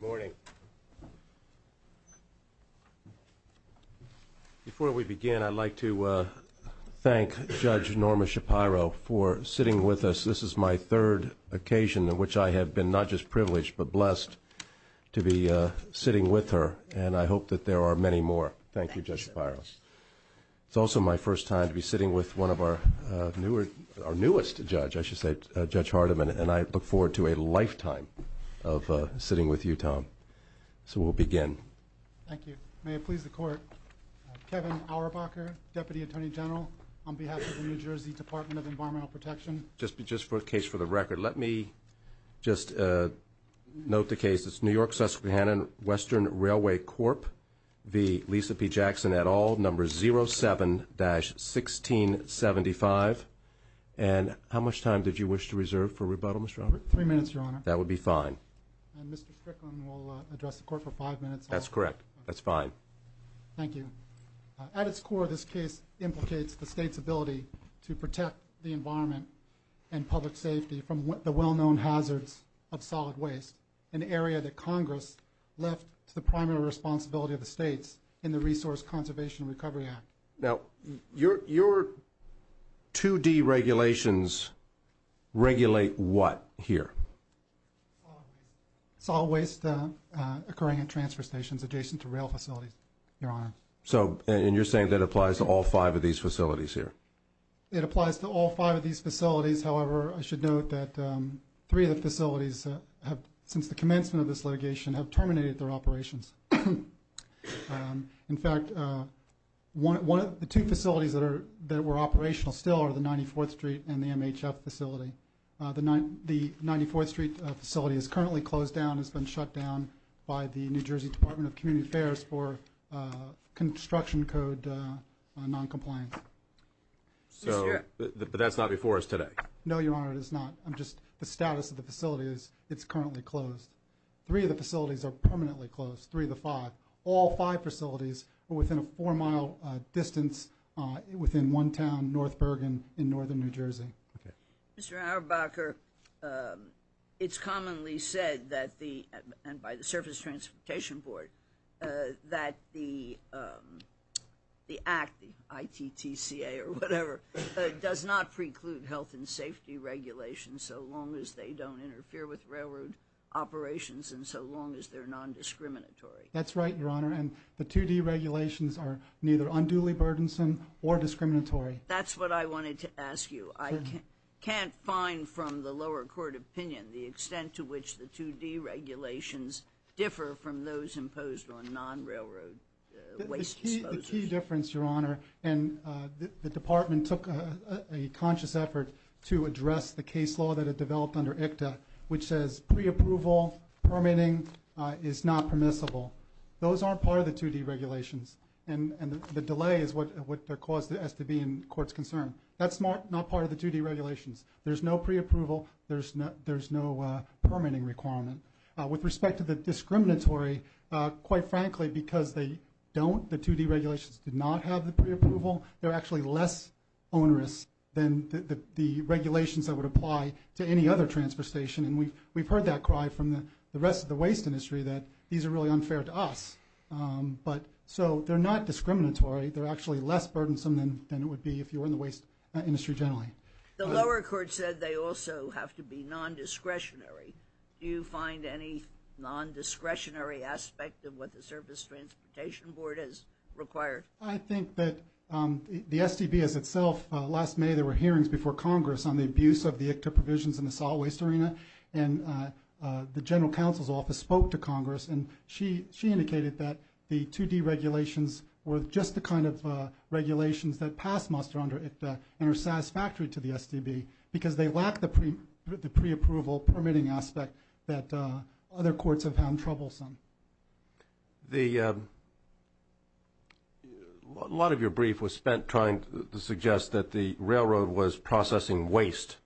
Good morning. Before we begin, I'd like to thank Judge Norma Shapiro for sitting with us. This is my third occasion in which I have been not just privileged but blessed to be sitting with her, and I hope that there are many more. Thank you, Judge Shapiro. It's also my first time to be sitting with one of our newest judge, I should say, Judge Hardiman, and I look forward to a lifetime of sitting with you, Tom. So we'll begin. Thank you. May it please the Court, Kevin Auerbacher, Deputy Attorney General on behalf of the New Jersey Department of Environmental Protection. Just for the case for the record, let me just note the case. It's New York-Susquehanna Western Railway Corp v. Lisa P. Jackson et al., number 07-1675. And how much time did you wish to buddle, Mr. Auerbacher? Three minutes, Your Honor. That would be fine. And Mr. Strickland will address the Court for five minutes. That's correct. That's fine. Thank you. At its core, this case implicates the State's ability to protect the environment and public safety from the well-known hazards of solid waste, an area that Congress left to the primary responsibility of the States in the Resource Conservation and Recovery Act. Now, your 2D regulations regulate what here? Solid waste occurring at transfer stations adjacent to rail facilities, Your Honor. So and you're saying that applies to all five of these facilities here? It applies to all five of these facilities. However, I should note that three of the facilities have, since the commencement of this litigation, have terminated their operations. In fact, the two facilities that were operational still are the 94th Street and the MHF facility. The 94th Street facility is currently closed down, has been shut down by the New Jersey Department of Community Affairs for construction code noncompliance. But that's not before us today? No, Your Honor, it is not. I'm just, the status of the facility is it's currently closed. Three of the facilities are permanently closed, three of the five. All five facilities are within a four-mile distance within one town, North Bergen, in northern New Jersey. Mr. Auerbacher, it's commonly said that the, and by the Surface Transportation Board, that the Act, the ITTCA or whatever, does not preclude health and safety regulations so long as they don't interfere with railroad operations and so long as they're nondiscriminatory. That's right, Your Honor, and the 2D regulations are neither unduly burdensome or discriminatory. That's what I wanted to ask you. I can't find from the lower court opinion the extent to which the 2D regulations differ from those imposed on non-railroad waste disposals. The key difference, Your Honor, and the Department took a conscious effort to address the case law that had developed under ITTCA, which says pre-approval, permitting is not permissible. Those aren't part of the 2D regulations, and the delay is what caused the STB in court's concern. That's not part of the 2D regulations. There's no pre-approval, there's no permitting requirement. With respect to the discriminatory, quite frankly, because they don't, the 2D regulations did not have the pre-approval, they're actually less onerous than the regulations that would apply to any other transportation, and we've heard that cry from the rest of the waste industry that these are really unfair to us. So they're not discriminatory, they're actually less burdensome than it would be if you were in the waste industry generally. The lower court said they also have to be nondiscretionary. Do you find any nondiscretionary aspect of what the Service Transportation Board has required? I think that the STB as itself, last May there were hearings before Congress on the abuse of the ITTCA provisions in the solid waste arena, and the General Counsel's Office spoke to Congress, and she indicated that the 2D regulations were just the kind of regulations that pass muster under ITTCA and are satisfactory to the STB, because they lack the pre-approval permitting aspect that other courts have found troublesome. A lot of your brief was spent trying to suggest that the railroad was processing waste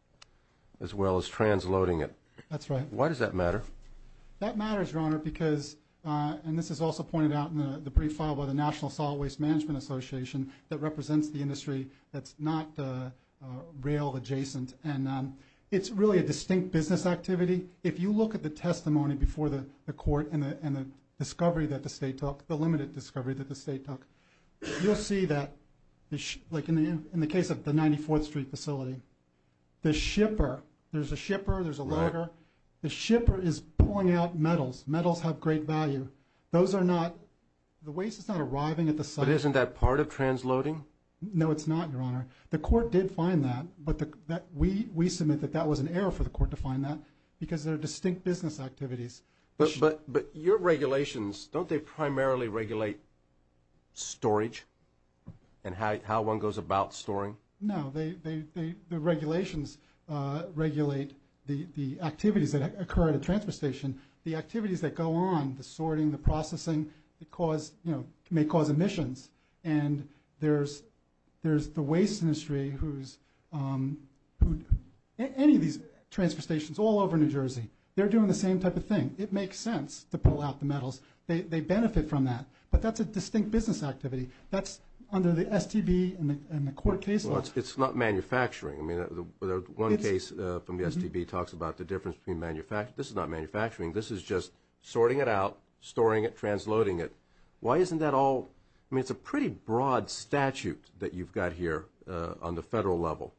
as well as transloading it. That's right. Why does that matter? That matters, Your Honor, because, and this is also pointed out in the brief filed by the National Solid Waste Management Association that represents the industry that's not rail adjacent, and it's really a distinct business activity. If you look at the testimony before the Court and the discovery that the State took, the limited discovery that the State took, you'll see that, like in the case of the 94th Street facility, the shipper, there's a shipper, there's a logger, the shipper is pulling out metals. Metals have great value. Those are not, the waste is not arriving at the site. But isn't that part of transloading? No, it's not, Your Honor. The Court did find that, but we submit that that was an error for the Court to find that because they're distinct business activities. But your regulations, don't they primarily regulate storage and how one goes about storing? No, the regulations regulate the activities that occur at a transfer station. The activities that go on, the sorting, the processing, may cause emissions. And there's the waste industry who's, any of these transfer stations all over New Jersey, they're doing the same type of thing. It makes sense to pull out the metals. They benefit from that. But that's a distinct business activity. That's under the STB and the Court case law. It's not manufacturing. I mean, one case from the STB talks about the difference between manufacturing. This is not manufacturing. This is just sorting it out, storing it, transloading it. Why isn't that all? I mean, it's a pretty broad statute that you've got here on the federal level.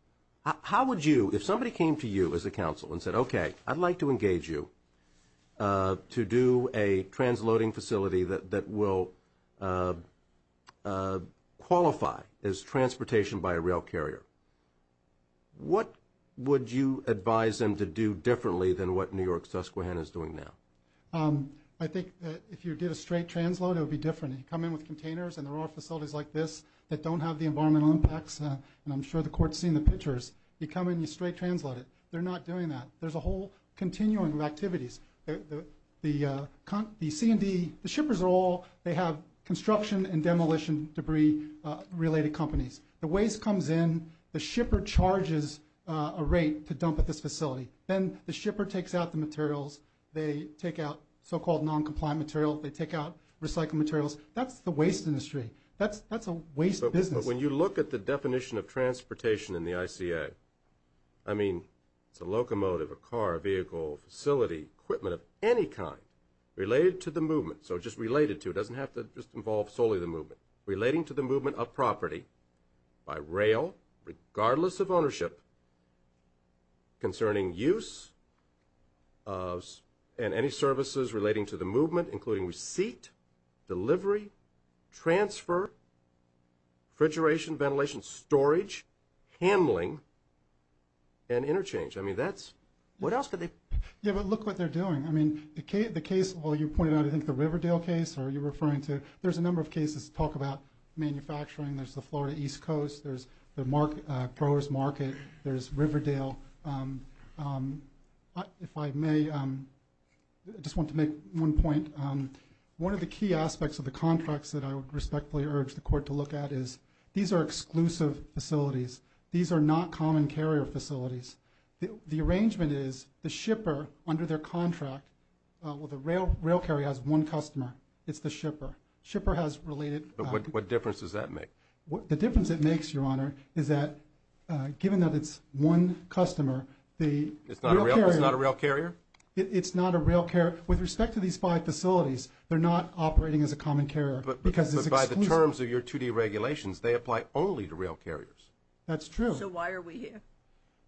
How would you, if somebody came to you as a counsel and said, okay, I'd like to engage you to do a transloading facility that will qualify as transportation by a rail carrier, what would you advise them to do differently than what New York Susquehanna is doing now? I think that if you did a straight transloading, it would be different. You come in with containers and there are facilities like this that don't have the environmental impacts, and I'm sure the Court's seen the pictures. You come in, you straight transload it. They're not doing that. There's a whole continuum of activities. The C&D, the shippers are all, they have construction and demolition debris-related companies. The waste comes in, the shipper charges a rate to dump at this facility. Then the shipper takes out the materials. They take out so-called non-compliant material. They take out recycled materials. That's the waste industry. That's a waste business. But when you look at the definition of transportation in the ICA, I mean, it's a locomotive, a car, a vehicle, a facility, equipment of any kind related to the movement. So just related to, it doesn't have to just involve solely the movement. Relating to the movement of property by rail, regardless of ownership, concerning use of, and any services relating to the movement, including receipt, delivery, transfer, refrigeration, ventilation, storage, handling, and interchange. I mean, that's, what else could they? Yeah, but look what they're doing. I mean, the case, well, you pointed out, I think the Riverdale case, or you're referring to, there's a number of cases that talk about manufacturing. There's the Florida East Coast. There's the growers market. There's Riverdale. If I may, I just want to make one point. One of the key aspects of the contracts that I would respectfully urge the court to look at is, these are exclusive facilities. These are not common carrier facilities. The arrangement is, the shipper, under their contract, well, the rail carrier has one customer. It's the shipper. Shipper has related- What difference does that make? The difference it makes, Your Honor, is that given that it's one customer, the rail carrier- It's not a rail carrier? It's not a rail carrier. With respect to these five facilities, they're not operating as a common carrier, because it's exclusive. But by the terms of your 2D regulations, they apply only to rail carriers. That's true. So why are we here?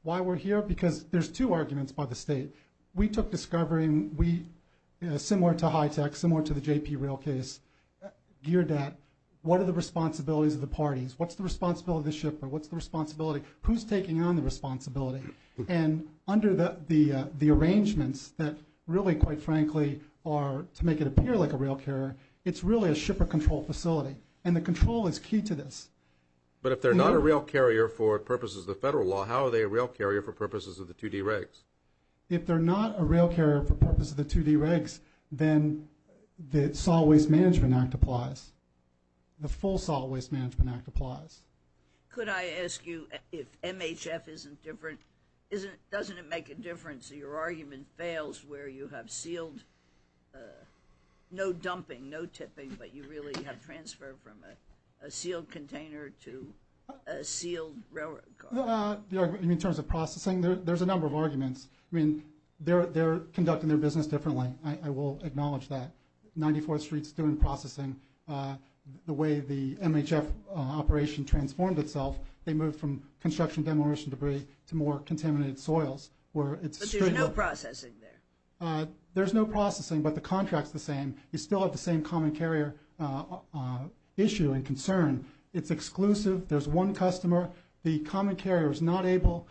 Why we're here? Because there's two arguments by the state. We took discovery, and we, similar to HITECH, similar to the JP Rail case, geared at, what are the responsibilities of the parties? What's the responsibility of the shipper? What's the responsibility? Who's taking on the responsibility? And under the arrangements that really, quite frankly, are, to make it appear like a rail carrier, it's really a shipper-controlled facility. And the control is key to this. But if they're not a rail carrier for purposes of the federal law, how are they a rail carrier for purposes of the 2D regs? If they're not a rail carrier for purposes of the 2D regs, then the Salt Waste Management Act applies. The full Salt Waste Management Act applies. Could I ask you, if MHF isn't different, doesn't it make a difference that your argument fails where you have sealed, no dumping, no tipping, but you really have transferred from a sealed container to a sealed railroad car? In terms of processing, there's a number of arguments. I mean, they're conducting their business differently. I will acknowledge that. 94th Street's doing processing. The way the MHF operation transformed itself, they moved from construction demolition debris to more contaminated soils, where it's stricter. But there's no processing there? There's no processing, but the contract's the same. You still have the same common carrier issue and concern. It's exclusive. There's one customer. The common carrier is not able,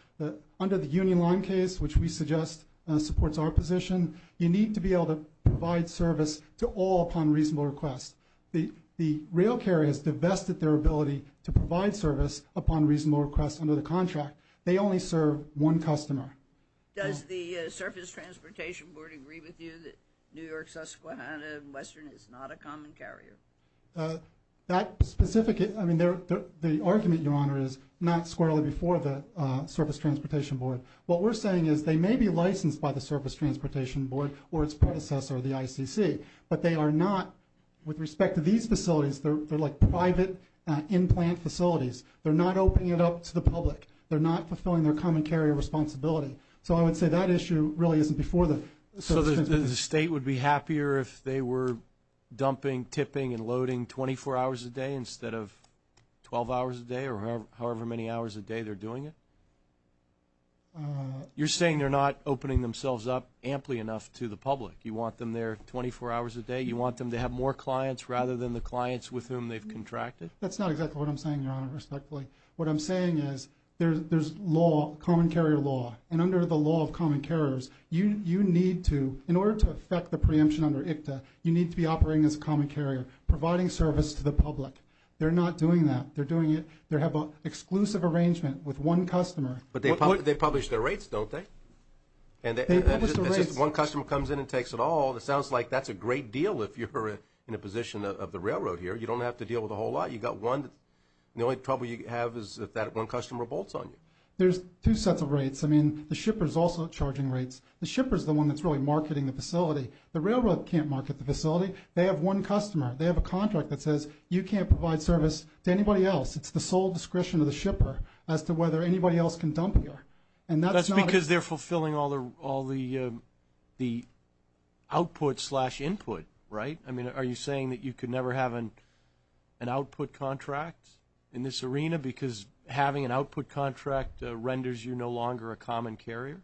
under the Union Line case, which we suggest supports our position, you need to be able to provide service to all upon reasonable request. The rail carrier has divested their ability to provide service upon reasonable request under the contract. They only serve one customer. Does the Surface Transportation Board agree with you that New York, Susquehanna, and Western is not a common carrier? That specific, I mean, the argument, Your Honor, is not squarely before the Surface Transportation Board. What we're saying is they may be licensed by the Surface Transportation Board or its predecessor, the ICC, but they are not, with respect to these facilities, they're like private in-plant facilities. They're not opening it up to the public. They're not fulfilling their common carrier responsibility. So I would say that issue really isn't before the Surface Transportation Board. So the state would be happier if they were dumping, tipping, and loading 24 hours a day instead of 12 hours a day or however many hours a day they're doing it? You're saying they're not opening themselves up amply enough to the public? You want them there 24 hours a day? You want them to have more clients rather than the clients with whom they've contracted? That's not exactly what I'm saying, Your Honor, respectfully. What I'm saying is there's law, common carrier law, and under the law of common carriers, you need to, in order to affect the preemption under ICTA, you need to be operating as a common carrier, providing service to the public. They're not doing that. They're doing it, they have an exclusive arrangement with one customer. But they publish their rates, don't they? They publish their rates. It's just one customer comes in and takes it all. It sounds like that's a great deal if you're in a position of the railroad here. You don't have to deal with a whole lot. You've got one. The only trouble you have is if that one customer bolts on you. There's two sets of rates. I mean, the shipper's also charging rates. The shipper's the one that's really marketing the facility. The railroad can't market the facility. They have one customer. They have a contract that says you can't provide service to anybody else. It's the sole discretion of the shipper as to whether anybody else can dump you. And that's not a... That's because they're fulfilling all the output slash input, right? I mean, are you saying that you could never have an output contract in this arena because having an output contract renders you no longer a common carrier?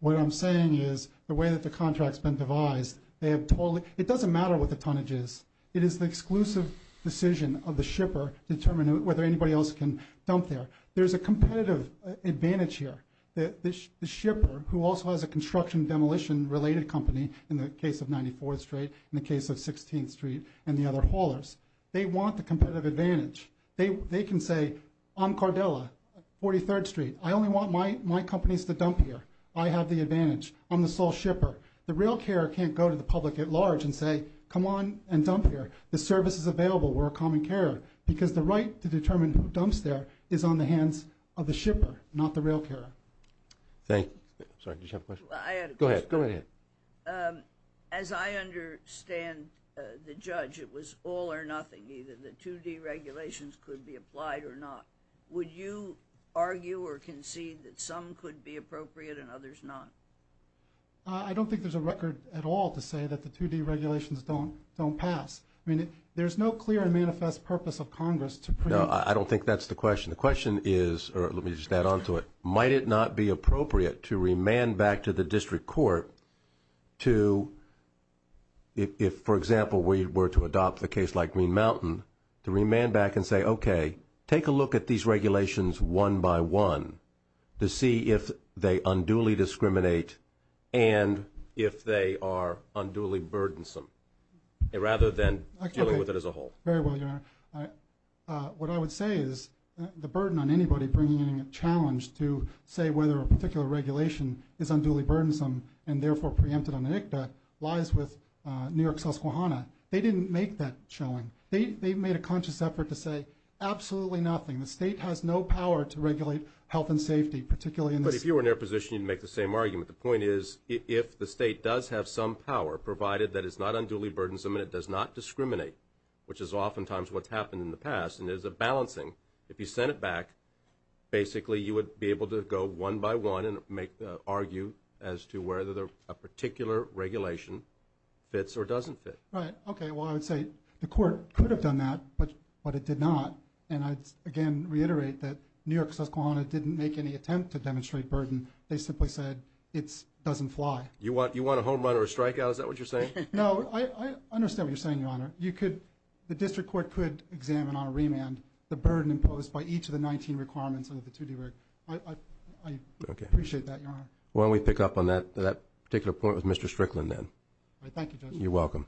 What I'm saying is the way that the contract's been devised, they have totally... It doesn't matter what the tonnage is. It is the exclusive decision of the shipper to determine whether anybody else can dump there. There's a competitive advantage here. The shipper, who also has a construction demolition related company, in the case of 94th Street, in the case of 16th Street, and the other haulers, they want the competitive advantage. They can say, I'm Cardella, 43rd Street. I only want my companies to dump here. I have the advantage. I'm the sole shipper. The rail carrier can't go to the public at large and say, come on and dump here. The service is available. We're a common carrier. Because the right to determine who dumps there is on the hands of the shipper, not the rail carrier. Thank you. Sorry, did you have a question? I had a question. Go ahead. Go ahead. As I understand the judge, it was all or nothing, either the 2D regulations could be applied or not. Would you argue or concede that some could be appropriate and others not? I don't think there's a record at all to say that the 2D regulations don't pass. I mean, there's no clear and manifest purpose of Congress to pre... No, I don't think that's the question. The question is, or let me just add on to it, might it not be appropriate to remand back to the district court to, if, for example, we were to adopt the case like Green Mountain, to remand back and say, okay, take a look at these regulations one by one to see if they unduly discriminate and if they are unduly burdensome, rather than dealing with it as a whole. Very well, Your Honor. What I would say is the burden on anybody bringing in a challenge to say whether a particular regulation is unduly burdensome and therefore preempted on ANICBA lies with New York's Susquehanna. They didn't make that showing. They made a conscious effort to say absolutely nothing. The state has no power to regulate health and safety, particularly in this... But if you were in their position, you'd make the same argument. The point is, if the state does have some power, provided that it's not unduly burdensome and it does not discriminate, which is oftentimes what's happened in the past, and there's a balancing. If you sent it back, basically you would be able to go one by one and argue as to whether a particular regulation fits or doesn't fit. Right. Okay. Well, I would say the court could have done that, but it did not. And I, again, reiterate that New York Susquehanna didn't make any attempt to demonstrate burden. They simply said it doesn't fly. You want a home run or a strikeout? Is that what you're saying? No. I understand what you're saying, Your Honor. The district court could examine on a remand the burden imposed by each of the 19 requirements under the 2D reg. I appreciate that, Your Honor. Why don't we pick up on that particular point with Mr. Strickland then. All right. Thank you, Judge. You're welcome.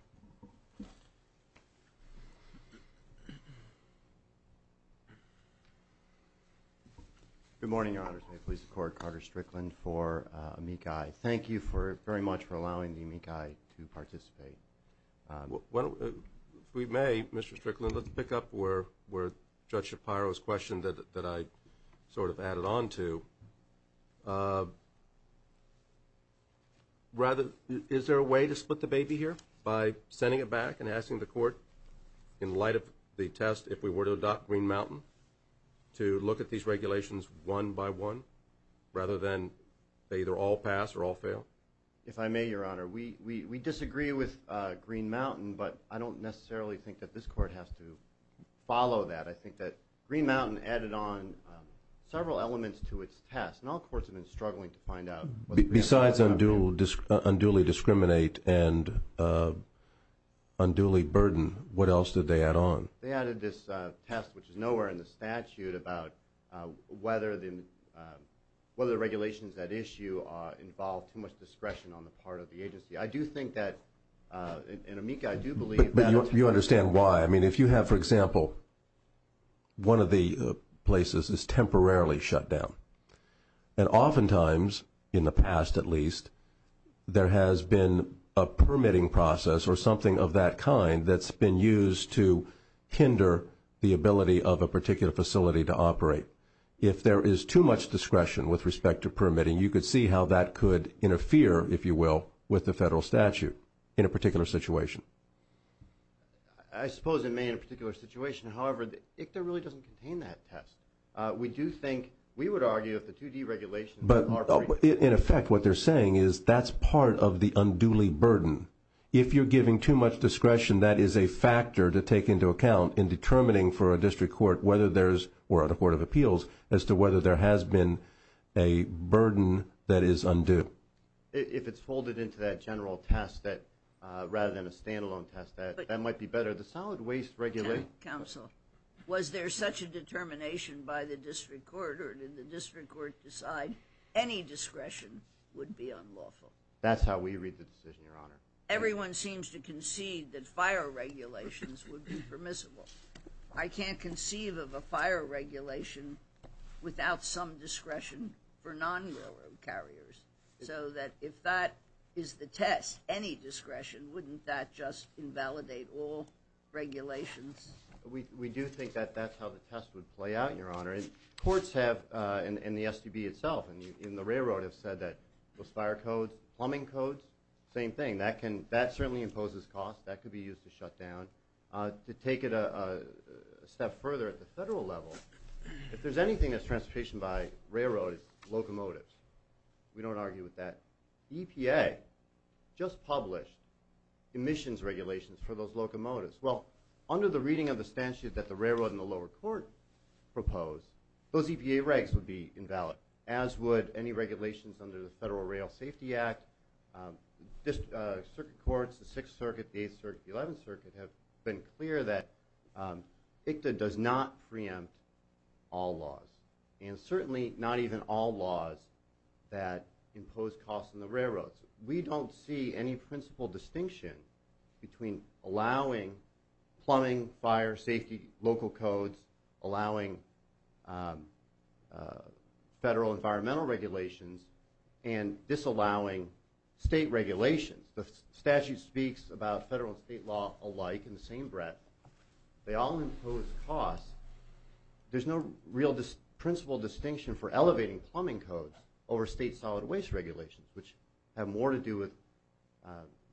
Good morning, Your Honor. Today I please the Court, Carter Strickland for amici. Thank you very much for allowing the amici to participate. If we may, Mr. Strickland, let's pick up where Judge Shapiro's question that I sort of added on to. Is there a way to split the baby here by sending it back and asking the court, in light of the test, if we were to adopt Green Mountain, to look at these regulations one by one, rather than they either all pass or all fail? If I may, Your Honor, we disagree with Green Mountain, but I don't necessarily think that this Court has to follow that. I think that Green Mountain added on several elements to its test, and all courts have been struggling to find out what the answer is. Besides unduly discriminate and unduly burden, what else did they add on? They added this test, which is nowhere in the statute, about whether the regulations at issue involve too much discretion on the part of the agency. I do think that, and amici, I do believe that... But you understand why. I mean, if you have, for example, one of the places is temporarily shut down, and oftentimes, in the past at least, there has been a permitting process or something of that kind that's been used to hinder the ability of a particular facility to operate. If there is too much discretion with respect to permitting, you could see how that could interfere, if you will, with the federal statute in a particular situation. I suppose it may in a particular situation. However, ICTA really doesn't contain that test. We do think, we would argue if the 2D regulations... In effect, what they're saying is that's part of the unduly burden. If you're giving too much discretion, that is a factor to take into account in determining for a district court, or a court of appeals, as to whether there has been a burden that is undue. If it's folded into that general test rather than a stand-alone test, that might be better. The Solid Waste Regulation... Counsel, was there such a determination by the district court, or did the district court decide any discretion would be unlawful? That's how we read the decision, Your Honor. Everyone seems to concede that fire regulations would be permissible. I can't conceive of a fire regulation without some discretion for non-railroad carriers, so that if that is the test, any discretion, wouldn't that just invalidate all regulations? We do think that that's how the test would play out, Your Honor. Courts have, and the STB itself, and the railroad have said that those fire codes, plumbing codes, same thing. That certainly imposes costs. That could be used to shut down. To take it a step further at the federal level, if there's anything that's transportation by railroad, it's locomotives. We don't argue with that. EPA just published emissions regulations for those locomotives. Well, under the reading of the statute that the railroad and the lower court proposed, those EPA regs would be invalid, as would any regulations under the Federal Rail Safety Act. District circuit courts, the 6th Circuit, the 8th Circuit, the 11th Circuit have been clear that ICTA does not preempt all laws, and certainly not even all laws that impose costs on the railroads. We don't see any principle distinction between allowing plumbing, fire, safety, local codes, allowing federal environmental regulations, and disallowing state regulations. The statute speaks about federal and state law alike in the same breath. They all impose costs. There's no real principle distinction for elevating plumbing codes over state solid waste regulations, which have more to do with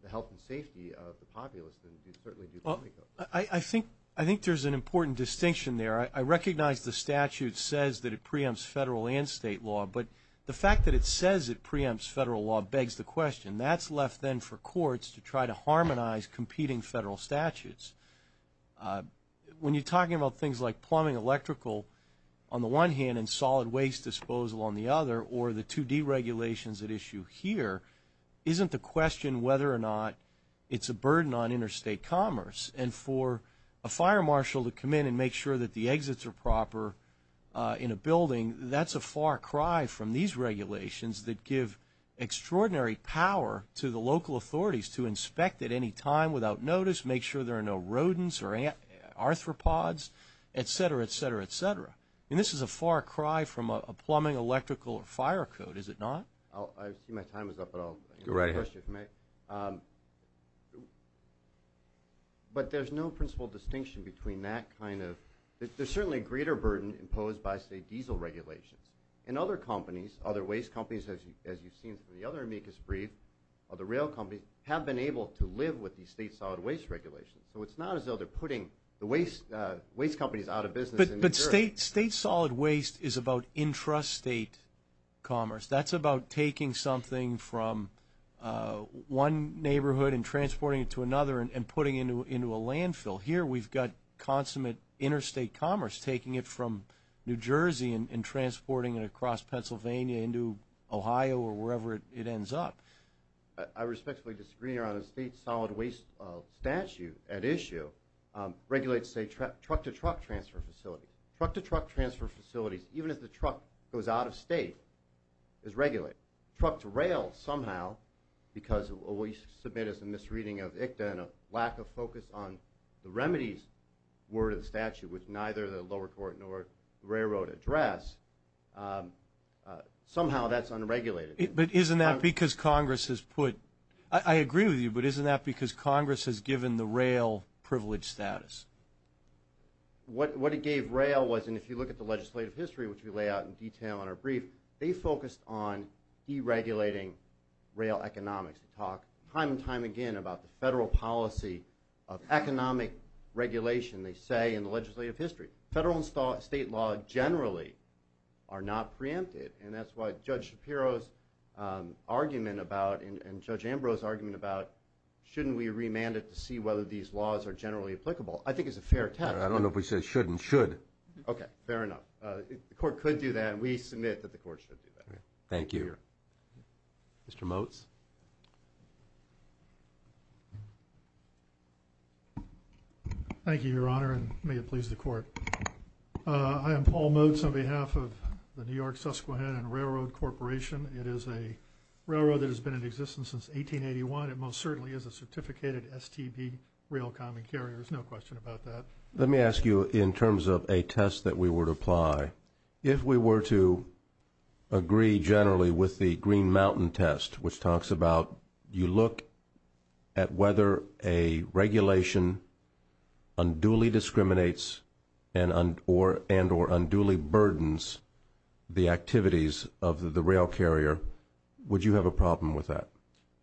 the health and safety of the populace than certainly do plumbing codes. I think there's an important distinction there. I recognize the statute says that it preempts federal and state law, but the fact that it says it preempts federal law begs the question. That's left then for courts to try to harmonize competing federal statutes. When you're talking about things like plumbing electrical, on the one hand, and solid waste disposal on the other, or the 2D regulations at issue here, isn't the question whether or not it's a burden on interstate commerce. And for a fire marshal to come in and make sure that the exits are proper in a building, that's a far cry from these regulations that give extraordinary power to the local authorities to inspect at any time without notice, make sure there are no rodents or arthropods, et cetera, et cetera, et cetera. This is a far cry from a plumbing electrical or fire code, is it not? I see my time is up, but I'll go right ahead. But there's no principle distinction between that kind of – there's certainly a greater burden imposed by, say, diesel regulations. And other companies, other waste companies, as you've seen from the other amicus brief, other rail companies, have been able to live with these state solid waste regulations. So it's not as though they're putting the waste companies out of business in New Jersey. But state solid waste is about intrastate commerce. That's about taking something from one neighborhood and transporting it to another and putting it into a landfill. Here we've got consummate interstate commerce, taking it from New Jersey and transporting it across Pennsylvania into Ohio or wherever it ends up. I respectfully disagree on a state solid waste statute at issue. Regulates, say, truck-to-truck transfer facilities. Truck-to-truck transfer facilities, even if the truck goes out of state, is regulated. Truck-to-rail somehow, because what we submit is a misreading of ICTA and a lack of focus on the remedies word of the statute with neither the lower court nor railroad address, somehow that's unregulated. But isn't that because Congress has put – I agree with you, but isn't that because Congress has given the rail privilege status? What it gave rail was – and if you look at the legislative history, which we lay out in detail in our brief, they focused on deregulating rail economics. They talk time and time again about the federal policy of economic regulation, they say, in the legislative history. Federal and state law generally are not preempted, and that's why Judge Shapiro's argument about and Judge Ambrose's argument about shouldn't we remand it to see whether these laws are generally applicable? I think it's a fair test. I don't know if we said shouldn't. Should. Okay, fair enough. The court could do that, and we submit that the court should do that. Thank you. Thank you, Your Honor, and may it please the court. I am Paul Motes on behalf of the New York Susquehanna and Railroad Corporation. It is a railroad that has been in existence since 1881. It most certainly is a certificated STB rail common carrier. There's no question about that. Let me ask you in terms of a test that we would apply. If we were to agree generally with the Green Mountain test, which talks about you look at whether a regulation unduly discriminates and or unduly burdens the activities of the rail carrier, would you have a problem with that?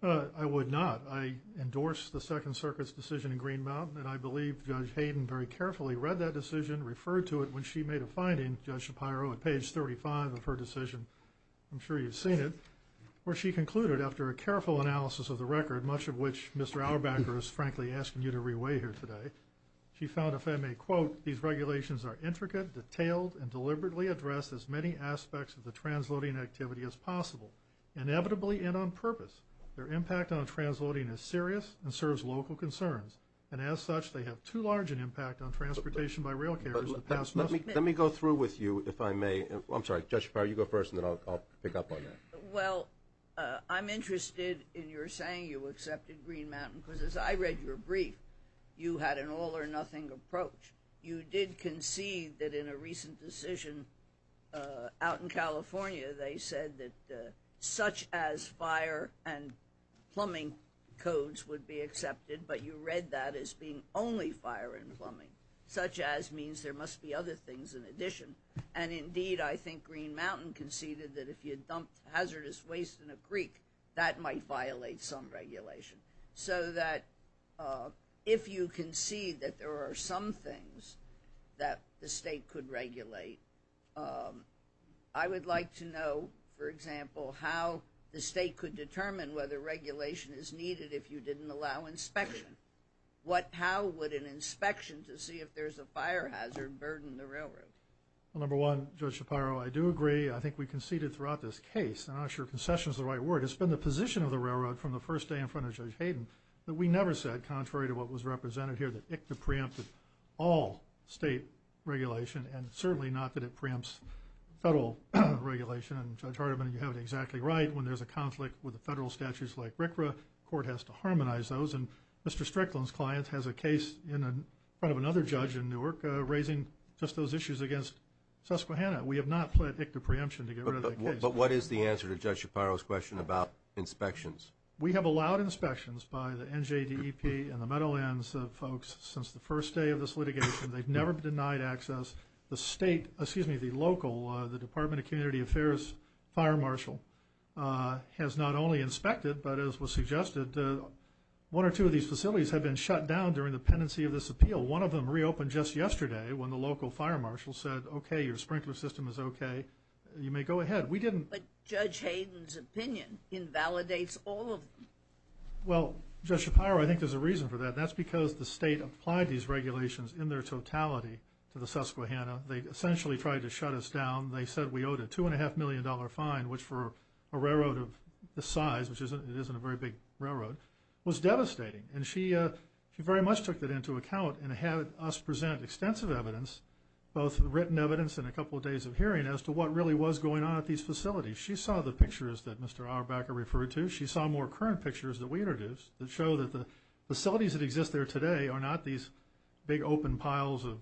I would not. I endorse the Second Circuit's decision in Green Mountain, and I believe Judge Hayden very carefully read that decision, referred to it when she made a finding, Judge Shapiro, at page 35 of her decision. I'm sure you've seen it, where she concluded after a careful analysis of the record, much of which Mr. Auerbacher is frankly asking you to reweigh here today, she found, if I may quote, these regulations are intricate, detailed, and deliberately address as many aspects of the transloading activity as possible, inevitably and on purpose. Their impact on transloading is serious and serves local concerns, and as such they have too large an impact on transportation by rail carriers. Let me go through with you, if I may. I'm sorry, Judge Shapiro, you go first, and then I'll pick up on that. Well, I'm interested in your saying you accepted Green Mountain, because as I read your brief, you had an all-or-nothing approach. You did concede that in a recent decision out in California, they said that such-as fire and plumbing codes would be accepted, but you read that as being only fire and plumbing. Such-as means there must be other things in addition. And, indeed, I think Green Mountain conceded that if you dumped hazardous waste in a creek, that might violate some regulation. So that if you concede that there are some things that the state could regulate, I would like to know, for example, how the state could determine whether regulation is needed if you didn't allow inspection. How would an inspection to see if there's a fire hazard burden the railroad? Well, number one, Judge Shapiro, I do agree. I think we conceded throughout this case, and I'm not sure concession is the right word. It's been the position of the railroad from the first day in front of Judge Hayden that we never said, contrary to what was represented here, that ICTA preempted all state regulation, and certainly not that it preempts federal regulation. And, Judge Hardiman, you have it exactly right. When there's a conflict with the federal statutes like RCRA, the court has to harmonize those, and Mr. Strickland's client has a case in front of another judge in Newark raising just those issues against Susquehanna. We have not pled ICTA preemption to get rid of that case. But what is the answer to Judge Shapiro's question about inspections? We have allowed inspections by the NJDEP and the Meadowlands folks since the first day of this litigation. They've never denied access. The state, excuse me, the local, the Department of Community Affairs fire marshal, has not only inspected, but as was suggested, one or two of these facilities have been shut down during the pendency of this appeal. One of them reopened just yesterday when the local fire marshal said, okay, your sprinkler system is okay, you may go ahead. But Judge Hayden's opinion invalidates all of them. Well, Judge Shapiro, I think there's a reason for that, and that's because the state applied these regulations in their totality to the Susquehanna. They essentially tried to shut us down. They said we owed a $2.5 million fine, which for a railroad of this size, which it isn't a very big railroad, was devastating. And she very much took that into account and had us present extensive evidence, both written evidence and a couple of days of hearing, as to what really was going on at these facilities. She saw the pictures that Mr. Auerbacher referred to. She saw more current pictures that we introduced that show that the facilities that exist there today are not these big open piles of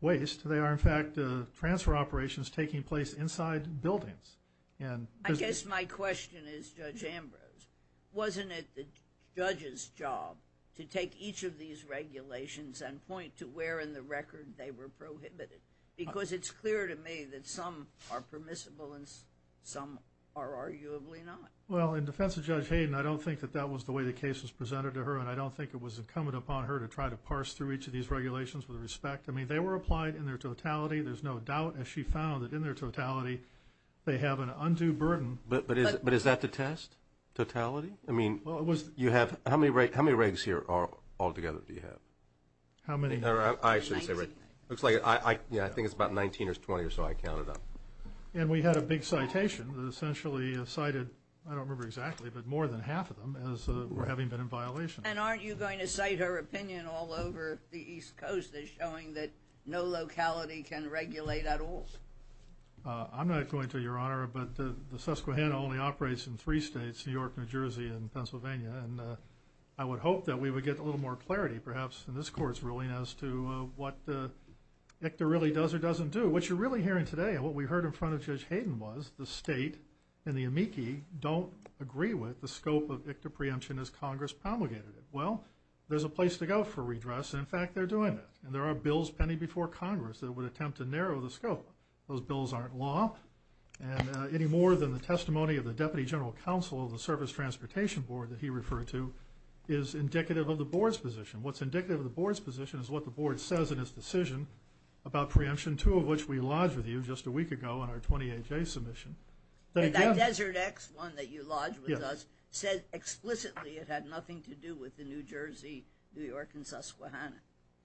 waste. They are, in fact, transfer operations taking place inside buildings. I guess my question is, Judge Ambrose, wasn't it the judge's job to take each of these regulations and point to where in the record they were prohibited? Because it's clear to me that some are permissible and some are arguably not. Well, in defense of Judge Hayden, I don't think that that was the way the case was presented to her, and I don't think it was incumbent upon her to try to parse through each of these regulations with respect. I mean, they were applied in their totality. There's no doubt, as she found, that in their totality they have an undue burden. But is that to test, totality? I mean, how many regs here all together do you have? How many? I shouldn't say regs. It looks like, yeah, I think it's about 19 or 20 or so I counted up. And we had a big citation that essentially cited, I don't remember exactly, but more than half of them as having been in violation. And aren't you going to cite her opinion all over the East Coast as showing that no locality can regulate at all? I'm not going to, Your Honor, but the Susquehanna only operates in three states, New York, New Jersey, and Pennsylvania, and I would hope that we would get a little more clarity, perhaps in this court's ruling, as to what ICTA really does or doesn't do. What you're really hearing today and what we heard in front of Judge Hayden was the state and the amici don't agree with the scope of ICTA preemption as Congress promulgated it. Well, there's a place to go for redress, and, in fact, they're doing it. And there are bills pending before Congress that would attempt to narrow the scope. Those bills aren't law, and any more than the testimony of the Deputy General Counsel of the Service Transportation Board that he referred to is indicative of the Board's position. What's indicative of the Board's position is what the Board says in its decision about preemption, two of which we lodged with you just a week ago on our 20-A-J submission. And that Desert X one that you lodged with us said explicitly it had nothing to do with the New Jersey, New York, and Susquehanna.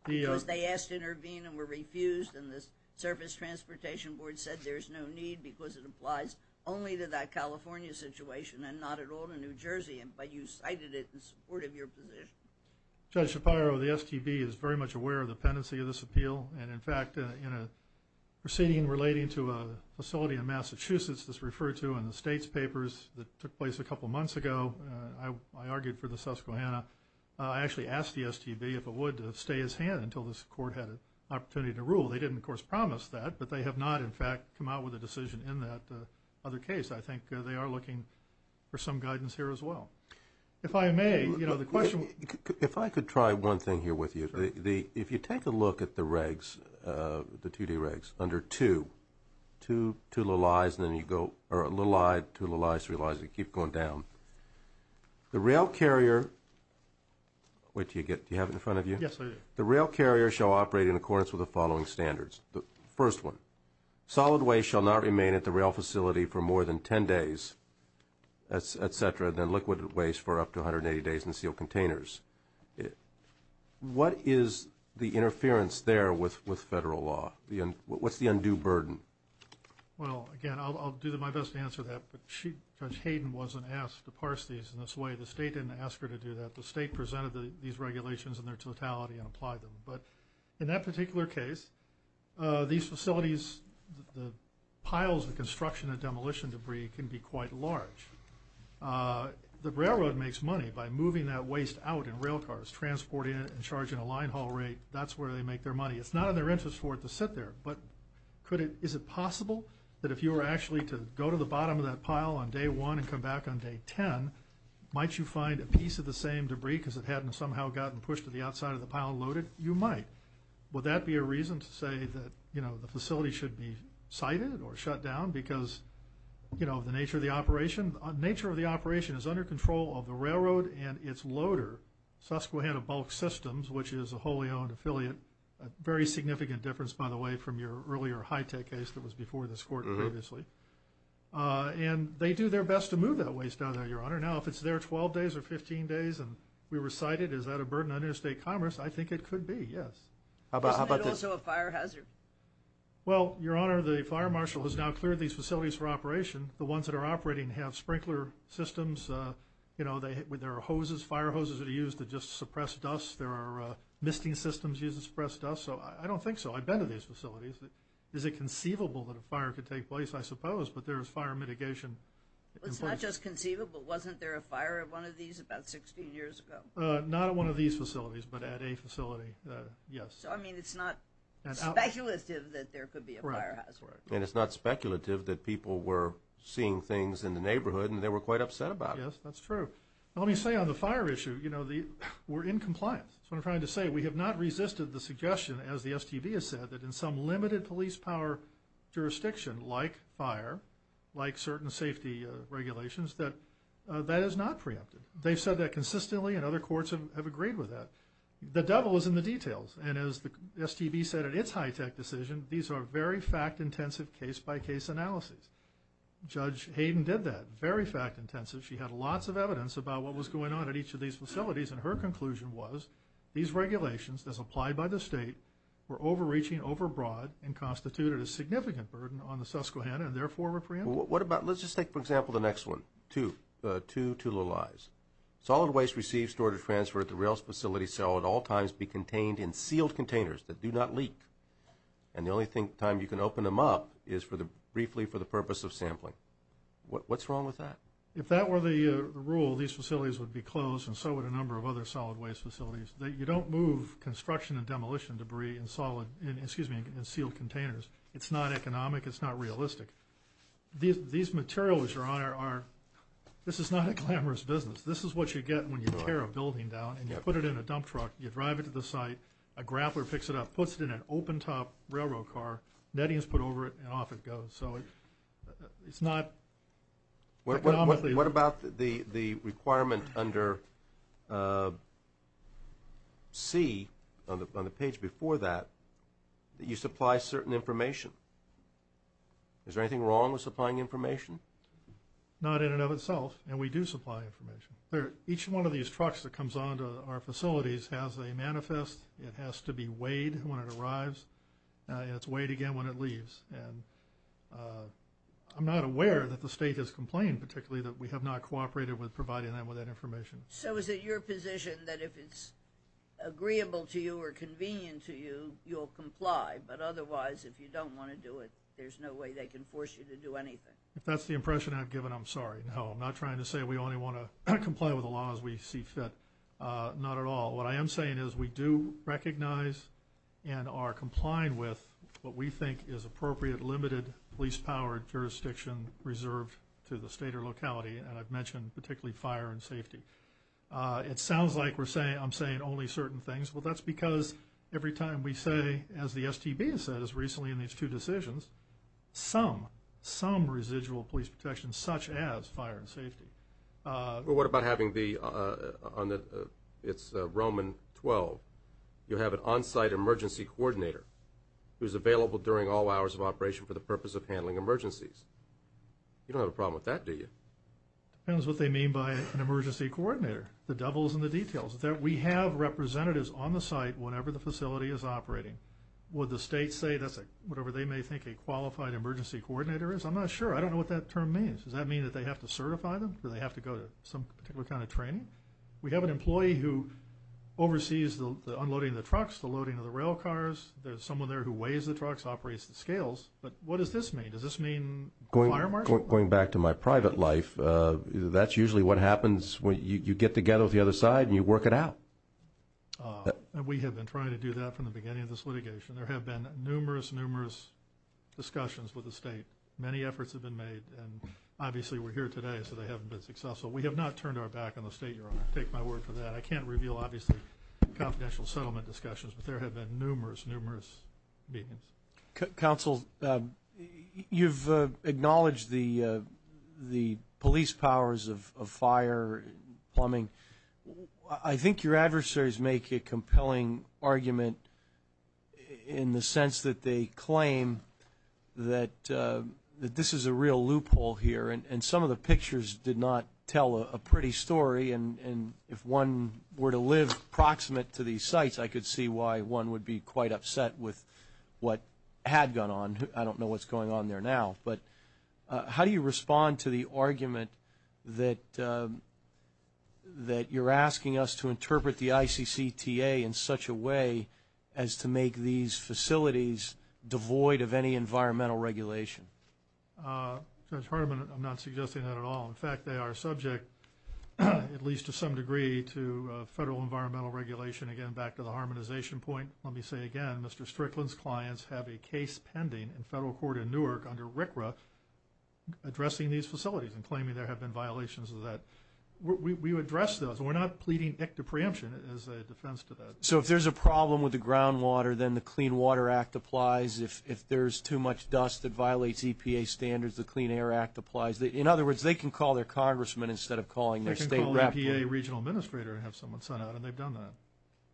Because they asked to intervene and were refused, and the Service Transportation Board said there's no need because it applies only to that California situation and not at all to New Jersey. But you cited it in support of your position. Judge Shapiro, the STB is very much aware of the pendency of this appeal. And, in fact, in a proceeding relating to a facility in Massachusetts that's referred to in the state's papers that took place a couple months ago, I argued for the Susquehanna. I actually asked the STB if it would stay his hand until this court had an opportunity to rule. They didn't, of course, promise that, but they have not, in fact, come out with a decision in that other case. I think they are looking for some guidance here as well. If I may, you know, the question was – If I could try one thing here with you. If you take a look at the regs, the 2-D regs, under 2, 2 little i's and then you go – or little i, 2 little i's, 3 little i's. They keep going down. The rail carrier – wait till you get – do you have it in front of you? Yes, I do. The rail carrier shall operate in accordance with the following standards. The first one, solid waste shall not remain at the rail facility for more than 10 days, et cetera, than liquid waste for up to 180 days in sealed containers. What is the interference there with federal law? What's the undue burden? Well, again, I'll do my best to answer that, but Judge Hayden wasn't asked to parse these in this way. The state didn't ask her to do that. The state presented these regulations in their totality and applied them. But in that particular case, these facilities, the piles of construction and demolition debris can be quite large. The railroad makes money by moving that waste out in rail cars, transporting it and charging a line haul rate. That's where they make their money. It's not in their interest for it to sit there. But is it possible that if you were actually to go to the bottom of that pile on day 1 and come back on day 10, might you find a piece of the same debris because it hadn't somehow gotten pushed to the outside of the pile and loaded? You might. Would that be a reason to say that the facility should be sited or shut down because of the nature of the operation? The nature of the operation is under control of the railroad and its loader, Susquehanna Bulk Systems, which is a wholly-owned affiliate, a very significant difference, by the way, from your earlier high-tech case that was before this court previously. And they do their best to move that waste out of there, Your Honor. Now, if it's there 12 days or 15 days and we were sited, is that a burden on interstate commerce? I think it could be, yes. Isn't it also a fire hazard? Well, Your Honor, the fire marshal has now cleared these facilities for operation. The ones that are operating have sprinkler systems. There are hoses, fire hoses that are used to just suppress dust. There are misting systems used to suppress dust. So I don't think so. I've been to these facilities. Is it conceivable that a fire could take place? I suppose, but there is fire mitigation in place. It's not just conceivable. Wasn't there a fire at one of these about 16 years ago? Not at one of these facilities, but at a facility, yes. So, I mean, it's not speculative that there could be a fire hazard. And it's not speculative that people were seeing things in the neighborhood and they were quite upset about it. Yes, that's true. Let me say on the fire issue, you know, we're in compliance. That's what I'm trying to say. We have not resisted the suggestion, as the STB has said, that in some limited police power jurisdiction, like fire, like certain safety regulations, that that is not preempted. They've said that consistently and other courts have agreed with that. The devil is in the details. And as the STB said in its high-tech decision, these are very fact-intensive case-by-case analyses. Judge Hayden did that. Very fact-intensive. She had lots of evidence about what was going on at each of these facilities. And her conclusion was these regulations, as applied by the state, were overreaching, overbroad, and constituted a significant burden on the Susquehanna and, therefore, were preempted. What about, let's just take, for example, the next one, two little I's. Solid waste received, stored, or transferred at the rail facility shall at all times be contained in sealed containers that do not leak. And the only time you can open them up is briefly for the purpose of sampling. What's wrong with that? If that were the rule, these facilities would be closed, and so would a number of other solid waste facilities. You don't move construction and demolition debris in sealed containers. It's not economic. It's not realistic. These materials, Your Honor, this is not a glamorous business. This is what you get when you tear a building down and you put it in a dump truck, you drive it to the site, a grappler picks it up, puts it in an open-top railroad car, netting is put over it, and off it goes. So it's not economically. What about the requirement under C, on the page before that, that you supply certain information? Is there anything wrong with supplying information? Not in and of itself, and we do supply information. Each one of these trucks that comes onto our facilities has a manifest. It has to be weighed when it arrives, and it's weighed again when it leaves. And I'm not aware that the state has complained particularly that we have not cooperated with providing them with that information. So is it your position that if it's agreeable to you or convenient to you, you'll comply, but otherwise, if you don't want to do it, there's no way they can force you to do anything? If that's the impression I've given, I'm sorry. No, I'm not trying to say we only want to comply with the laws we see fit. Not at all. What I am saying is we do recognize and are complying with what we think is appropriate, limited police-powered jurisdiction reserved to the state or locality, and I've mentioned particularly fire and safety. It sounds like I'm saying only certain things. Well, that's because every time we say, as the STB has said recently in these two decisions, some, some residual police protection, such as fire and safety. Well, what about having the, on the, it's Roman 12, you have an on-site emergency coordinator who's available during all hours of operation for the purpose of handling emergencies? You don't have a problem with that, do you? Depends what they mean by an emergency coordinator. The devil's in the details. We have representatives on the site whenever the facility is operating. Would the state say that's a, whatever they may think a qualified emergency coordinator is? I'm not sure. I don't know what that term means. Does that mean that they have to certify them? Do they have to go to some particular kind of training? We have an employee who oversees the unloading of the trucks, the loading of the rail cars. There's someone there who weighs the trucks, operates the scales. But what does this mean? Does this mean a fire marshal? Going back to my private life, that's usually what happens when you get together with the other side and you work it out. We have been trying to do that from the beginning of this litigation. There have been numerous, numerous discussions with the state. Many efforts have been made, and obviously we're here today so they haven't been successful. We have not turned our back on the state, Your Honor. Take my word for that. I can't reveal, obviously, confidential settlement discussions, but there have been numerous, numerous meetings. Counsel, you've acknowledged the police powers of fire and plumbing. I think your adversaries make a compelling argument in the sense that they claim that this is a real loophole here, and some of the pictures did not tell a pretty story. And if one were to live proximate to these sites, I could see why one would be quite upset with what had gone on. I don't know what's going on there now. How do you respond to the argument that you're asking us to interpret the ICCTA in such a way as to make these facilities devoid of any environmental regulation? Judge Hartman, I'm not suggesting that at all. In fact, they are subject, at least to some degree, to federal environmental regulation. Again, back to the harmonization point, let me say again, Mr. Strickland's clients have a case pending in federal court in Newark under RCRA addressing these facilities and claiming there have been violations of that. We address those. We're not pleading ICTA preemption as a defense to that. So if there's a problem with the groundwater, then the Clean Water Act applies. If there's too much dust that violates EPA standards, the Clean Air Act applies. In other words, they can call their congressman instead of calling their state rapporteur. They can call EPA regional administrator and have someone sent out, and they've done that.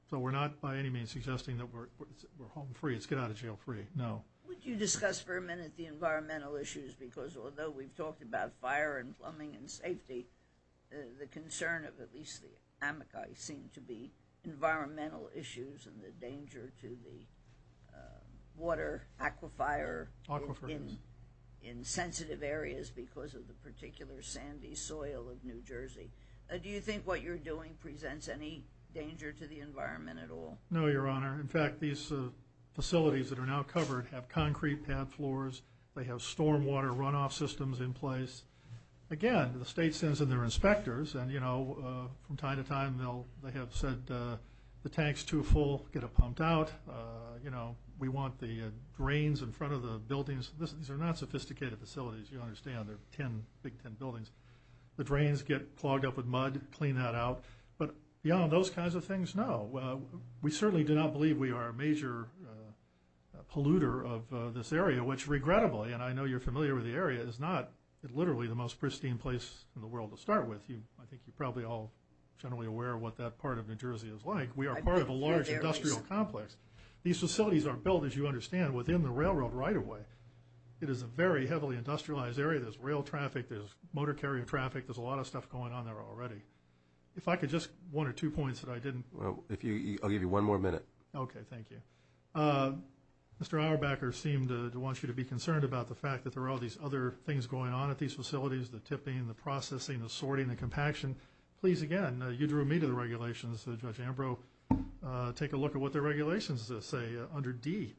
So we're not by any means suggesting that we're home free. It's get out of jail free. No. Would you discuss for a minute the environmental issues? Because although we've talked about fire and plumbing and safety, the concern of at least the Amakai seemed to be environmental issues and the danger to the water aquifer in sensitive areas because of the particular sandy soil of New Jersey. Do you think what you're doing presents any danger to the environment at all? No, Your Honor. In fact, these facilities that are now covered have concrete pad floors. They have storm water runoff systems in place. Again, the state sends in their inspectors, and, you know, from time to time, they have said the tank's too full, get it pumped out. You know, we want the drains in front of the buildings. These are not sophisticated facilities, you understand. They're big tin buildings. The drains get clogged up with mud, clean that out. But beyond those kinds of things, no. We certainly do not believe we are a major polluter of this area, which regrettably, and I know you're familiar with the area, is not literally the most pristine place in the world to start with. I think you're probably all generally aware what that part of New Jersey is like. We are part of a large industrial complex. These facilities are built, as you understand, within the railroad right-of-way. It is a very heavily industrialized area. There's rail traffic. There's motor carrier traffic. There's a lot of stuff going on there already. If I could just one or two points that I didn't. I'll give you one more minute. Okay, thank you. Mr. Auerbacher seemed to want you to be concerned about the fact that there are all these other things going on at these facilities, the tipping, the processing, the sorting, the compaction. Please, again, you drew me to the regulations. Judge Ambrose, take a look at what the regulations say under D.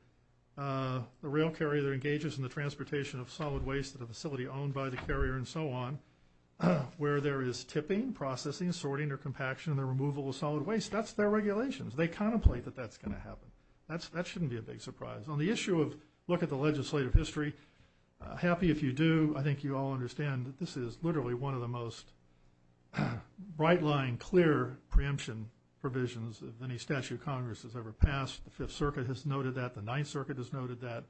The rail carrier that engages in the transportation of solid waste at a facility owned by the carrier and so on, where there is tipping, processing, sorting, or compaction, and the removal of solid waste. That's their regulations. They contemplate that that's going to happen. That shouldn't be a big surprise. On the issue of look at the legislative history, happy if you do. I think you all understand that this is literally one of the most bright-line, clear preemption provisions of any statute Congress has ever passed. The Fifth Circuit has noted that. The Ninth Circuit has noted that.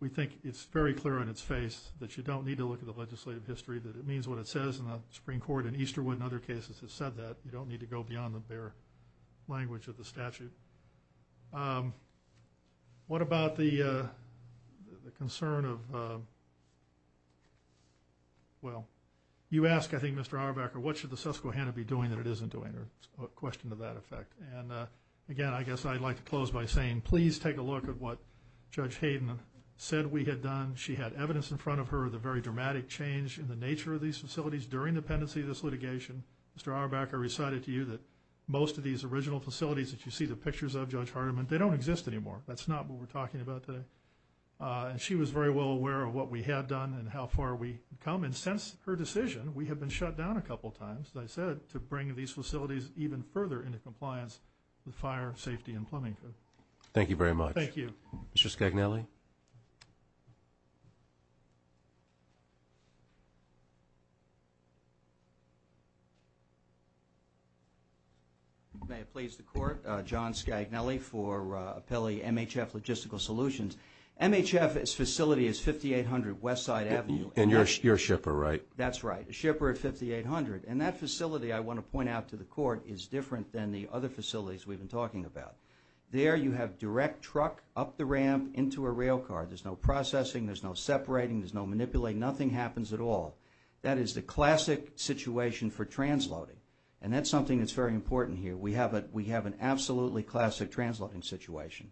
We think it's very clear on its face that you don't need to look at the statute, that it means what it says in the Supreme Court, and Easterwood in other cases has said that. You don't need to go beyond the bare language of the statute. What about the concern of, well, you ask, I think, Mr. Auerbacher, what should the Susquehanna be doing that it isn't doing, or a question to that effect. And, again, I guess I'd like to close by saying, please take a look at what Judge Hayden said we had done. She had evidence in front of her, the very dramatic change in the nature of these facilities during the pendency of this litigation. Mr. Auerbacher recited to you that most of these original facilities that you see the pictures of, Judge Hardiman, they don't exist anymore. That's not what we're talking about today. And she was very well aware of what we had done and how far we had come. And since her decision, we have been shut down a couple times, as I said, to bring these facilities even further into compliance with fire, safety, and plumbing. Thank you very much. Thank you. Mr. Scagnelli? May it please the Court, John Scagnelli for Appellee MHF Logistical Solutions. MHF's facility is 5800 Westside Avenue. And you're a shipper, right? That's right, a shipper at 5800. And that facility, I want to point out to the Court, is different than the other facilities we've been talking about. There you have direct truck up the ramp into a rail car. There's no processing. There's no separating. There's no manipulating. Nothing happens at all. That is the classic situation for transloading. And that's something that's very important here. We have an absolutely classic transloading situation.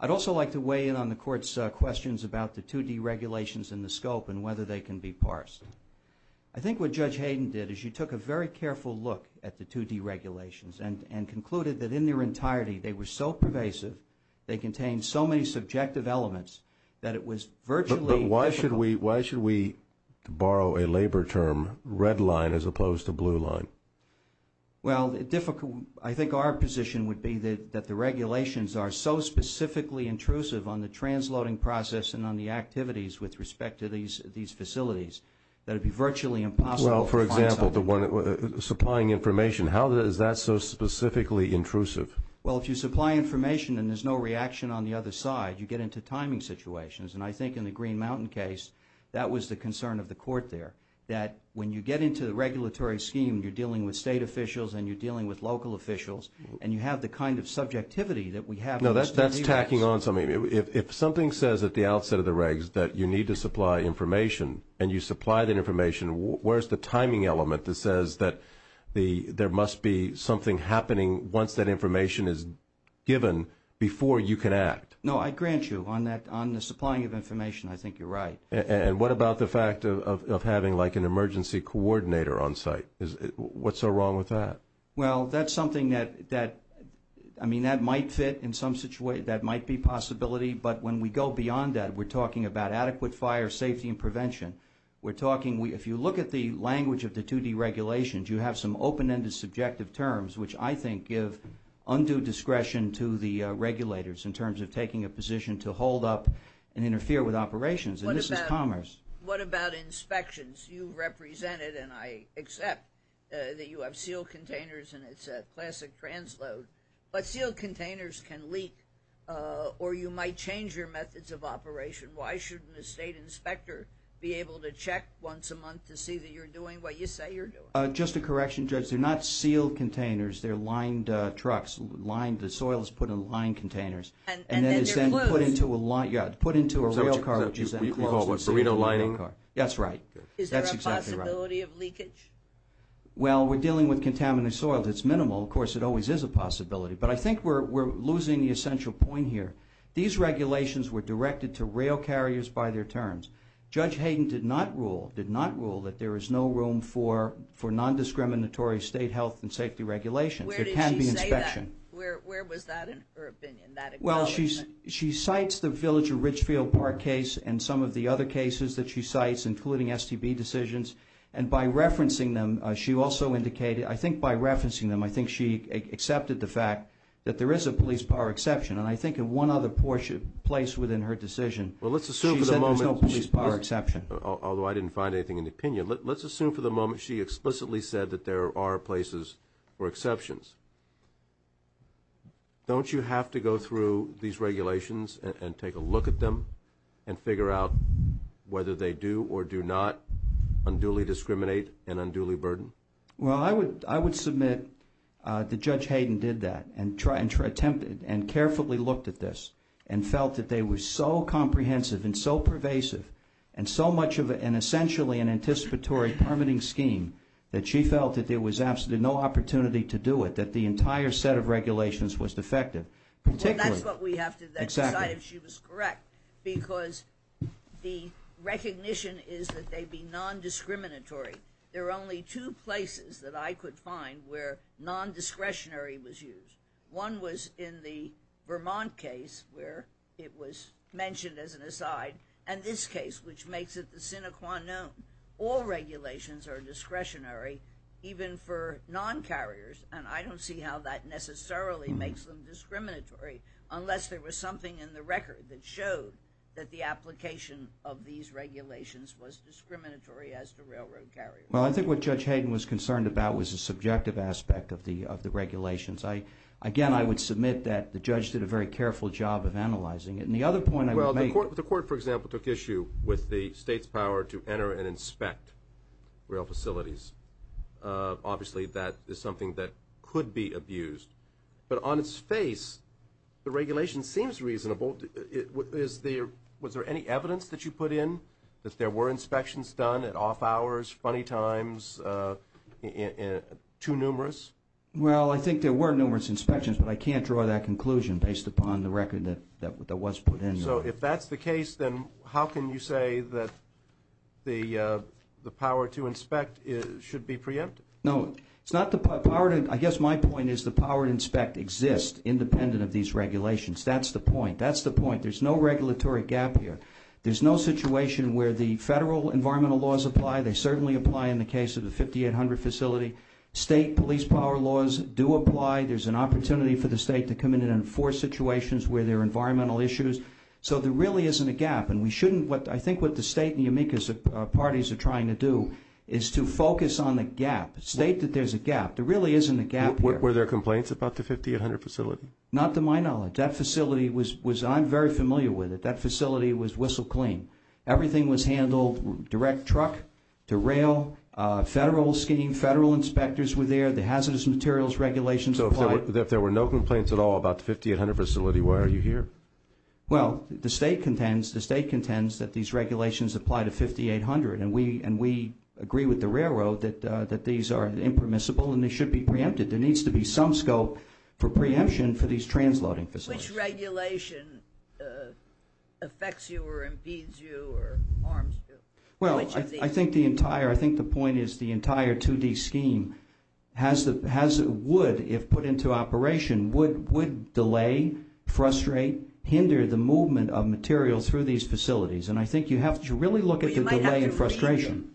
I'd also like to weigh in on the Court's questions about the 2D regulations and the scope and whether they can be parsed. I think what Judge Hayden did is you took a very careful look at the 2D regulations and concluded that in their entirety they were so pervasive, they contained so many subjective elements that it was virtually difficult. But why should we borrow a labor term, red line as opposed to blue line? Well, I think our position would be that the regulations are so specifically intrusive on the transloading process and on the activities with respect to supplying information. How is that so specifically intrusive? Well, if you supply information and there's no reaction on the other side, you get into timing situations. And I think in the Green Mountain case that was the concern of the Court there, that when you get into the regulatory scheme, you're dealing with state officials and you're dealing with local officials and you have the kind of subjectivity that we have. No, that's tacking on something. If something says at the outset of the regs that you need to supply information and you supply that information, where's the timing element that says that there must be something happening once that information is given before you can act? No, I grant you on the supplying of information, I think you're right. And what about the fact of having like an emergency coordinator on site? What's so wrong with that? Well, that's something that, I mean, that might fit in some situation. That might be a possibility. But when we go beyond that, we're talking about adequate fire safety and prevention. We're talking, if you look at the language of the 2D regulations, you have some open-ended subjective terms, which I think give undue discretion to the regulators in terms of taking a position to hold up and interfere with operations. And this is commerce. What about inspections? You represented, and I accept, that you have sealed containers and it's a classic transload. But sealed containers can leak or you might change your methods of operation. Why shouldn't a state inspector be able to check once a month to see that you're doing what you say you're doing? Just a correction, Judge. They're not sealed containers. They're lined trucks. The soil is put in lined containers. And then they're closed. Yeah, put into a rail car, which is then closed and sealed. Is there a possibility of leakage? Well, we're dealing with contaminated soil. It's minimal. Of course, it always is a possibility. But I think we're losing the essential point here. These regulations were directed to rail carriers by their terms. Judge Hayden did not rule that there is no room for nondiscriminatory state health and safety regulations. There can be inspection. Where did she say that? Where was that in her opinion, that acknowledgement? Well, she cites the Village of Richfield Park case and some of the other cases that she cites, including STB decisions. And by referencing them, she also indicated, I think by referencing them, I think she accepted the fact that there is a police power exception. And I think in one other place within her decision, she said there's no police power exception. Although I didn't find anything in the opinion. Let's assume for the moment she explicitly said that there are places or exceptions. Don't you have to go through these regulations and take a look at them and figure out whether they do or do not unduly discriminate and unduly burden? Well, I would submit that Judge Hayden did that and carefully looked at this and felt that they were so comprehensive and so pervasive and so much of an essentially an anticipatory permitting scheme that she felt that there was absolutely no opportunity to do it, that the entire set of regulations was defective. Well, that's what we have to decide if she was correct because the recognition is that they be nondiscriminatory. There are only two places that I could find where nondiscretionary was used. One was in the Vermont case where it was mentioned as an aside and this case which makes it the sine qua non. All regulations are discretionary even for non-carriers, and I don't see how that necessarily makes them discriminatory unless there was something in the record that showed that the application of these regulations was discriminatory as to railroad carriers. Well, I think what Judge Hayden was concerned about was the subjective aspect of the regulations. Again, I would submit that the judge did a very careful job of analyzing it. And the other point I would make— Well, the court, for example, took issue with the state's power to enter and inspect rail facilities. Obviously, that is something that could be abused. But on its face, the regulation seems reasonable. Was there any evidence that you put in that there were inspections done at off hours, funny times, too numerous? Well, I think there were numerous inspections, but I can't draw that conclusion based upon the record that was put in. So if that's the case, then how can you say that the power to inspect should be preempted? No, it's not the power to— I guess my point is the power to inspect exists independent of these regulations. That's the point. That's the point. There's no regulatory gap here. There's no situation where the federal environmental laws apply. They certainly apply in the case of the 5800 facility. State police power laws do apply. There's an opportunity for the state to come in and enforce situations where there are environmental issues. So there really isn't a gap, and we shouldn't— I think what the state and the amicus parties are trying to do is to focus on the gap, state that there's a gap. There really isn't a gap here. Were there complaints about the 5800 facility? Not to my knowledge. That facility was—I'm very familiar with it. That facility was whistle clean. Everything was handled direct truck to rail. Federal scheme, federal inspectors were there. The hazardous materials regulations apply. So if there were no complaints at all about the 5800 facility, why are you here? Well, the state contends that these regulations apply to 5800, and we agree with the railroad that these are impermissible and they should be preempted. There needs to be some scope for preemption for these transloading facilities. Which regulation affects you or impedes you or harms you? Well, I think the entire—I think the point is the entire 2D scheme has—would, if put into operation, would delay, frustrate, hinder the movement of materials through these facilities. And I think you have to really look at the delay and frustration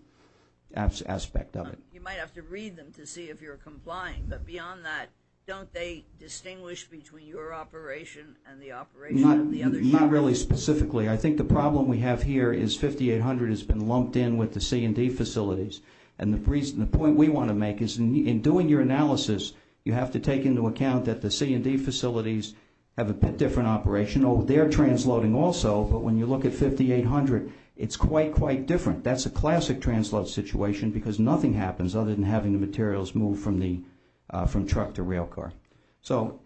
aspect of it. You might have to read them to see if you're complying. But beyond that, don't they distinguish between your operation and the operation of the other scheme? Not really specifically. I think the problem we have here is 5800 has been lumped in with the C&D facilities. And the point we want to make is in doing your analysis, you have to take into account that the C&D facilities have a bit different operation. Oh, they're transloading also, but when you look at 5800, it's quite, quite different. That's a classic transload situation because nothing happens other than having the materials move from truck to railcar. So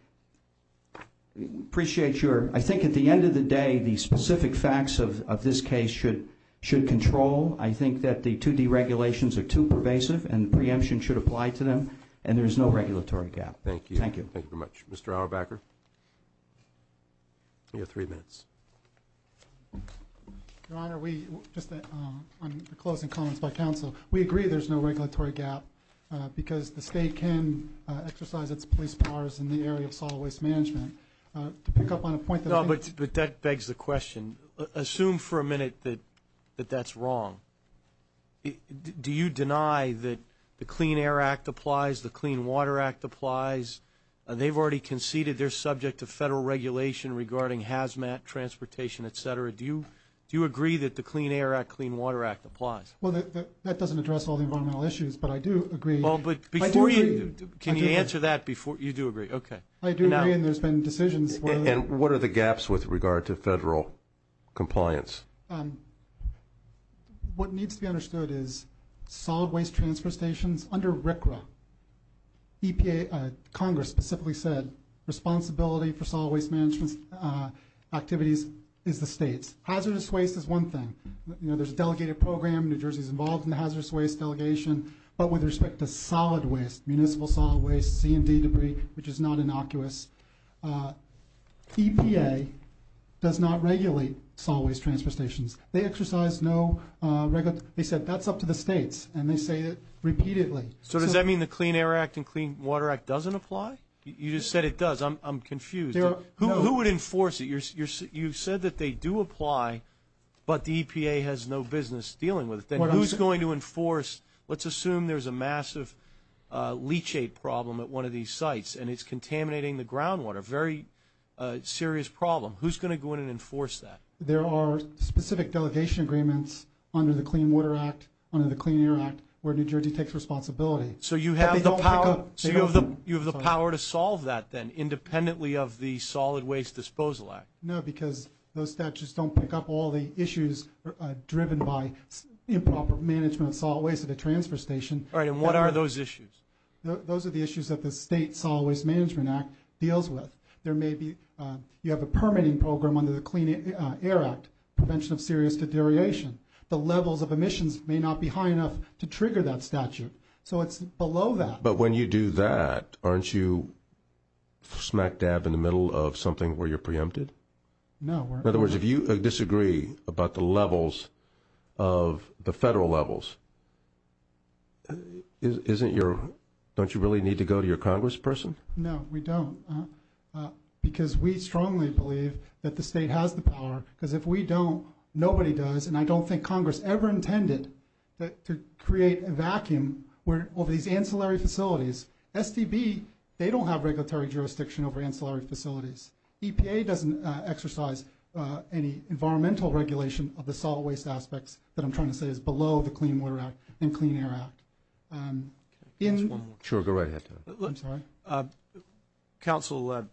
I appreciate your—I think at the end of the day, the specific facts of this case should control. I think that the 2D regulations are too pervasive and preemption should apply to them. And there's no regulatory gap. Thank you. Thank you. Thank you very much. Mr. Auerbacher, you have three minutes. Your Honor, we—just on the closing comments by counsel, we agree there's no regulatory gap because the state can exercise its police powers in the area of solid waste management. To pick up on a point that I think— No, but that begs the question. Assume for a minute that that's wrong. Do you deny that the Clean Air Act applies, the Clean Water Act applies? They've already conceded they're subject to federal regulation regarding hazmat, transportation, et cetera. Do you agree that the Clean Air Act, Clean Water Act applies? Well, that doesn't address all the environmental issues, but I do agree. Well, but before you—can you answer that before—you do agree. Okay. I do agree, and there's been decisions where— And what are the gaps with regard to federal compliance? What needs to be understood is solid waste transfer stations under RCRA, EPA—Congress specifically said responsibility for solid waste management activities is the state's. Hazardous waste is one thing. You know, there's a delegated program. New Jersey's involved in the hazardous waste delegation. But with respect to solid waste, municipal solid waste, C&D debris, which is not innocuous, EPA does not regulate solid waste transfer stations. They exercise no—they said that's up to the states, and they say it repeatedly. So does that mean the Clean Air Act and Clean Water Act doesn't apply? You just said it does. I'm confused. Who would enforce it? You said that they do apply, but the EPA has no business dealing with it. Then who's going to enforce—let's assume there's a massive leachate problem at one of these sites and it's contaminating the groundwater, a very serious problem. Who's going to go in and enforce that? There are specific delegation agreements under the Clean Water Act, under the Clean Air Act, where New Jersey takes responsibility. So you have the power to solve that then, independently of the Solid Waste Disposal Act? No, because those statutes don't pick up all the issues driven by improper management of solid waste at a transfer station. All right, and what are those issues? Those are the issues that the State Solid Waste Management Act deals with. There may be—you have a permitting program under the Clean Air Act, prevention of serious deterioration. The levels of emissions may not be high enough to trigger that statute. So it's below that. But when you do that, aren't you smack dab in the middle of something where you're preempted? No, we're not. Don't you really need to go to your congressperson? No, we don't, because we strongly believe that the state has the power, because if we don't, nobody does, and I don't think Congress ever intended to create a vacuum over these ancillary facilities. SDB, they don't have regulatory jurisdiction over ancillary facilities. EPA doesn't exercise any environmental regulation of the solid waste aspects that I'm trying to say is below the Clean Water Act and Clean Air Act. One more. Sure, go right ahead. I'm sorry. Counsel,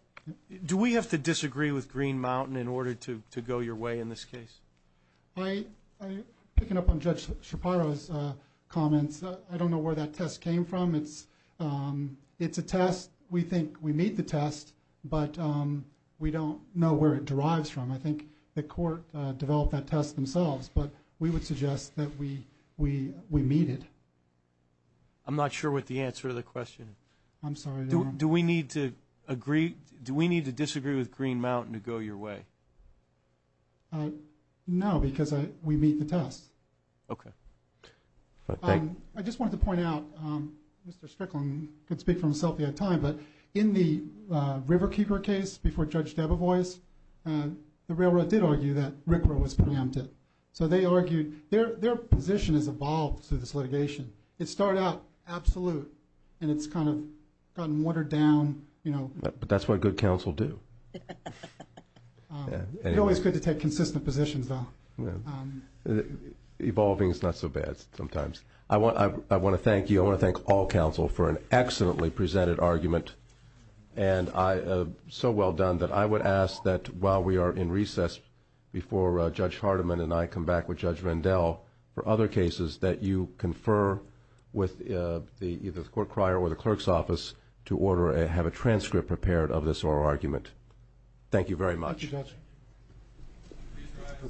do we have to disagree with Green Mountain in order to go your way in this case? Picking up on Judge Shaparro's comments, I don't know where that test came from. It's a test. We think we meet the test, but we don't know where it derives from. I think the court developed that test themselves, but we would suggest that we meet it. I'm not sure what the answer to the question is. I'm sorry. Do we need to disagree with Green Mountain to go your way? No, because we meet the test. Okay. I just wanted to point out, Mr. Strickland could speak for himself if he had time, but in the Riverkeeper case before Judge Debevoise, the railroad did argue that RCRA was preempted. So they argued their position has evolved through this litigation. It started out absolute, and it's kind of gotten watered down. But that's what good counsel do. It's always good to take consistent positions, though. Evolving is not so bad sometimes. I want to thank you. I want to thank all counsel for an excellently presented argument. And so well done that I would ask that while we are in recess, before Judge Hardiman and I come back with Judge Rendell for other cases, that you confer with either the court crier or the clerk's office to order and have a transcript prepared of this oral argument. Thank you very much. Thank you, Judge.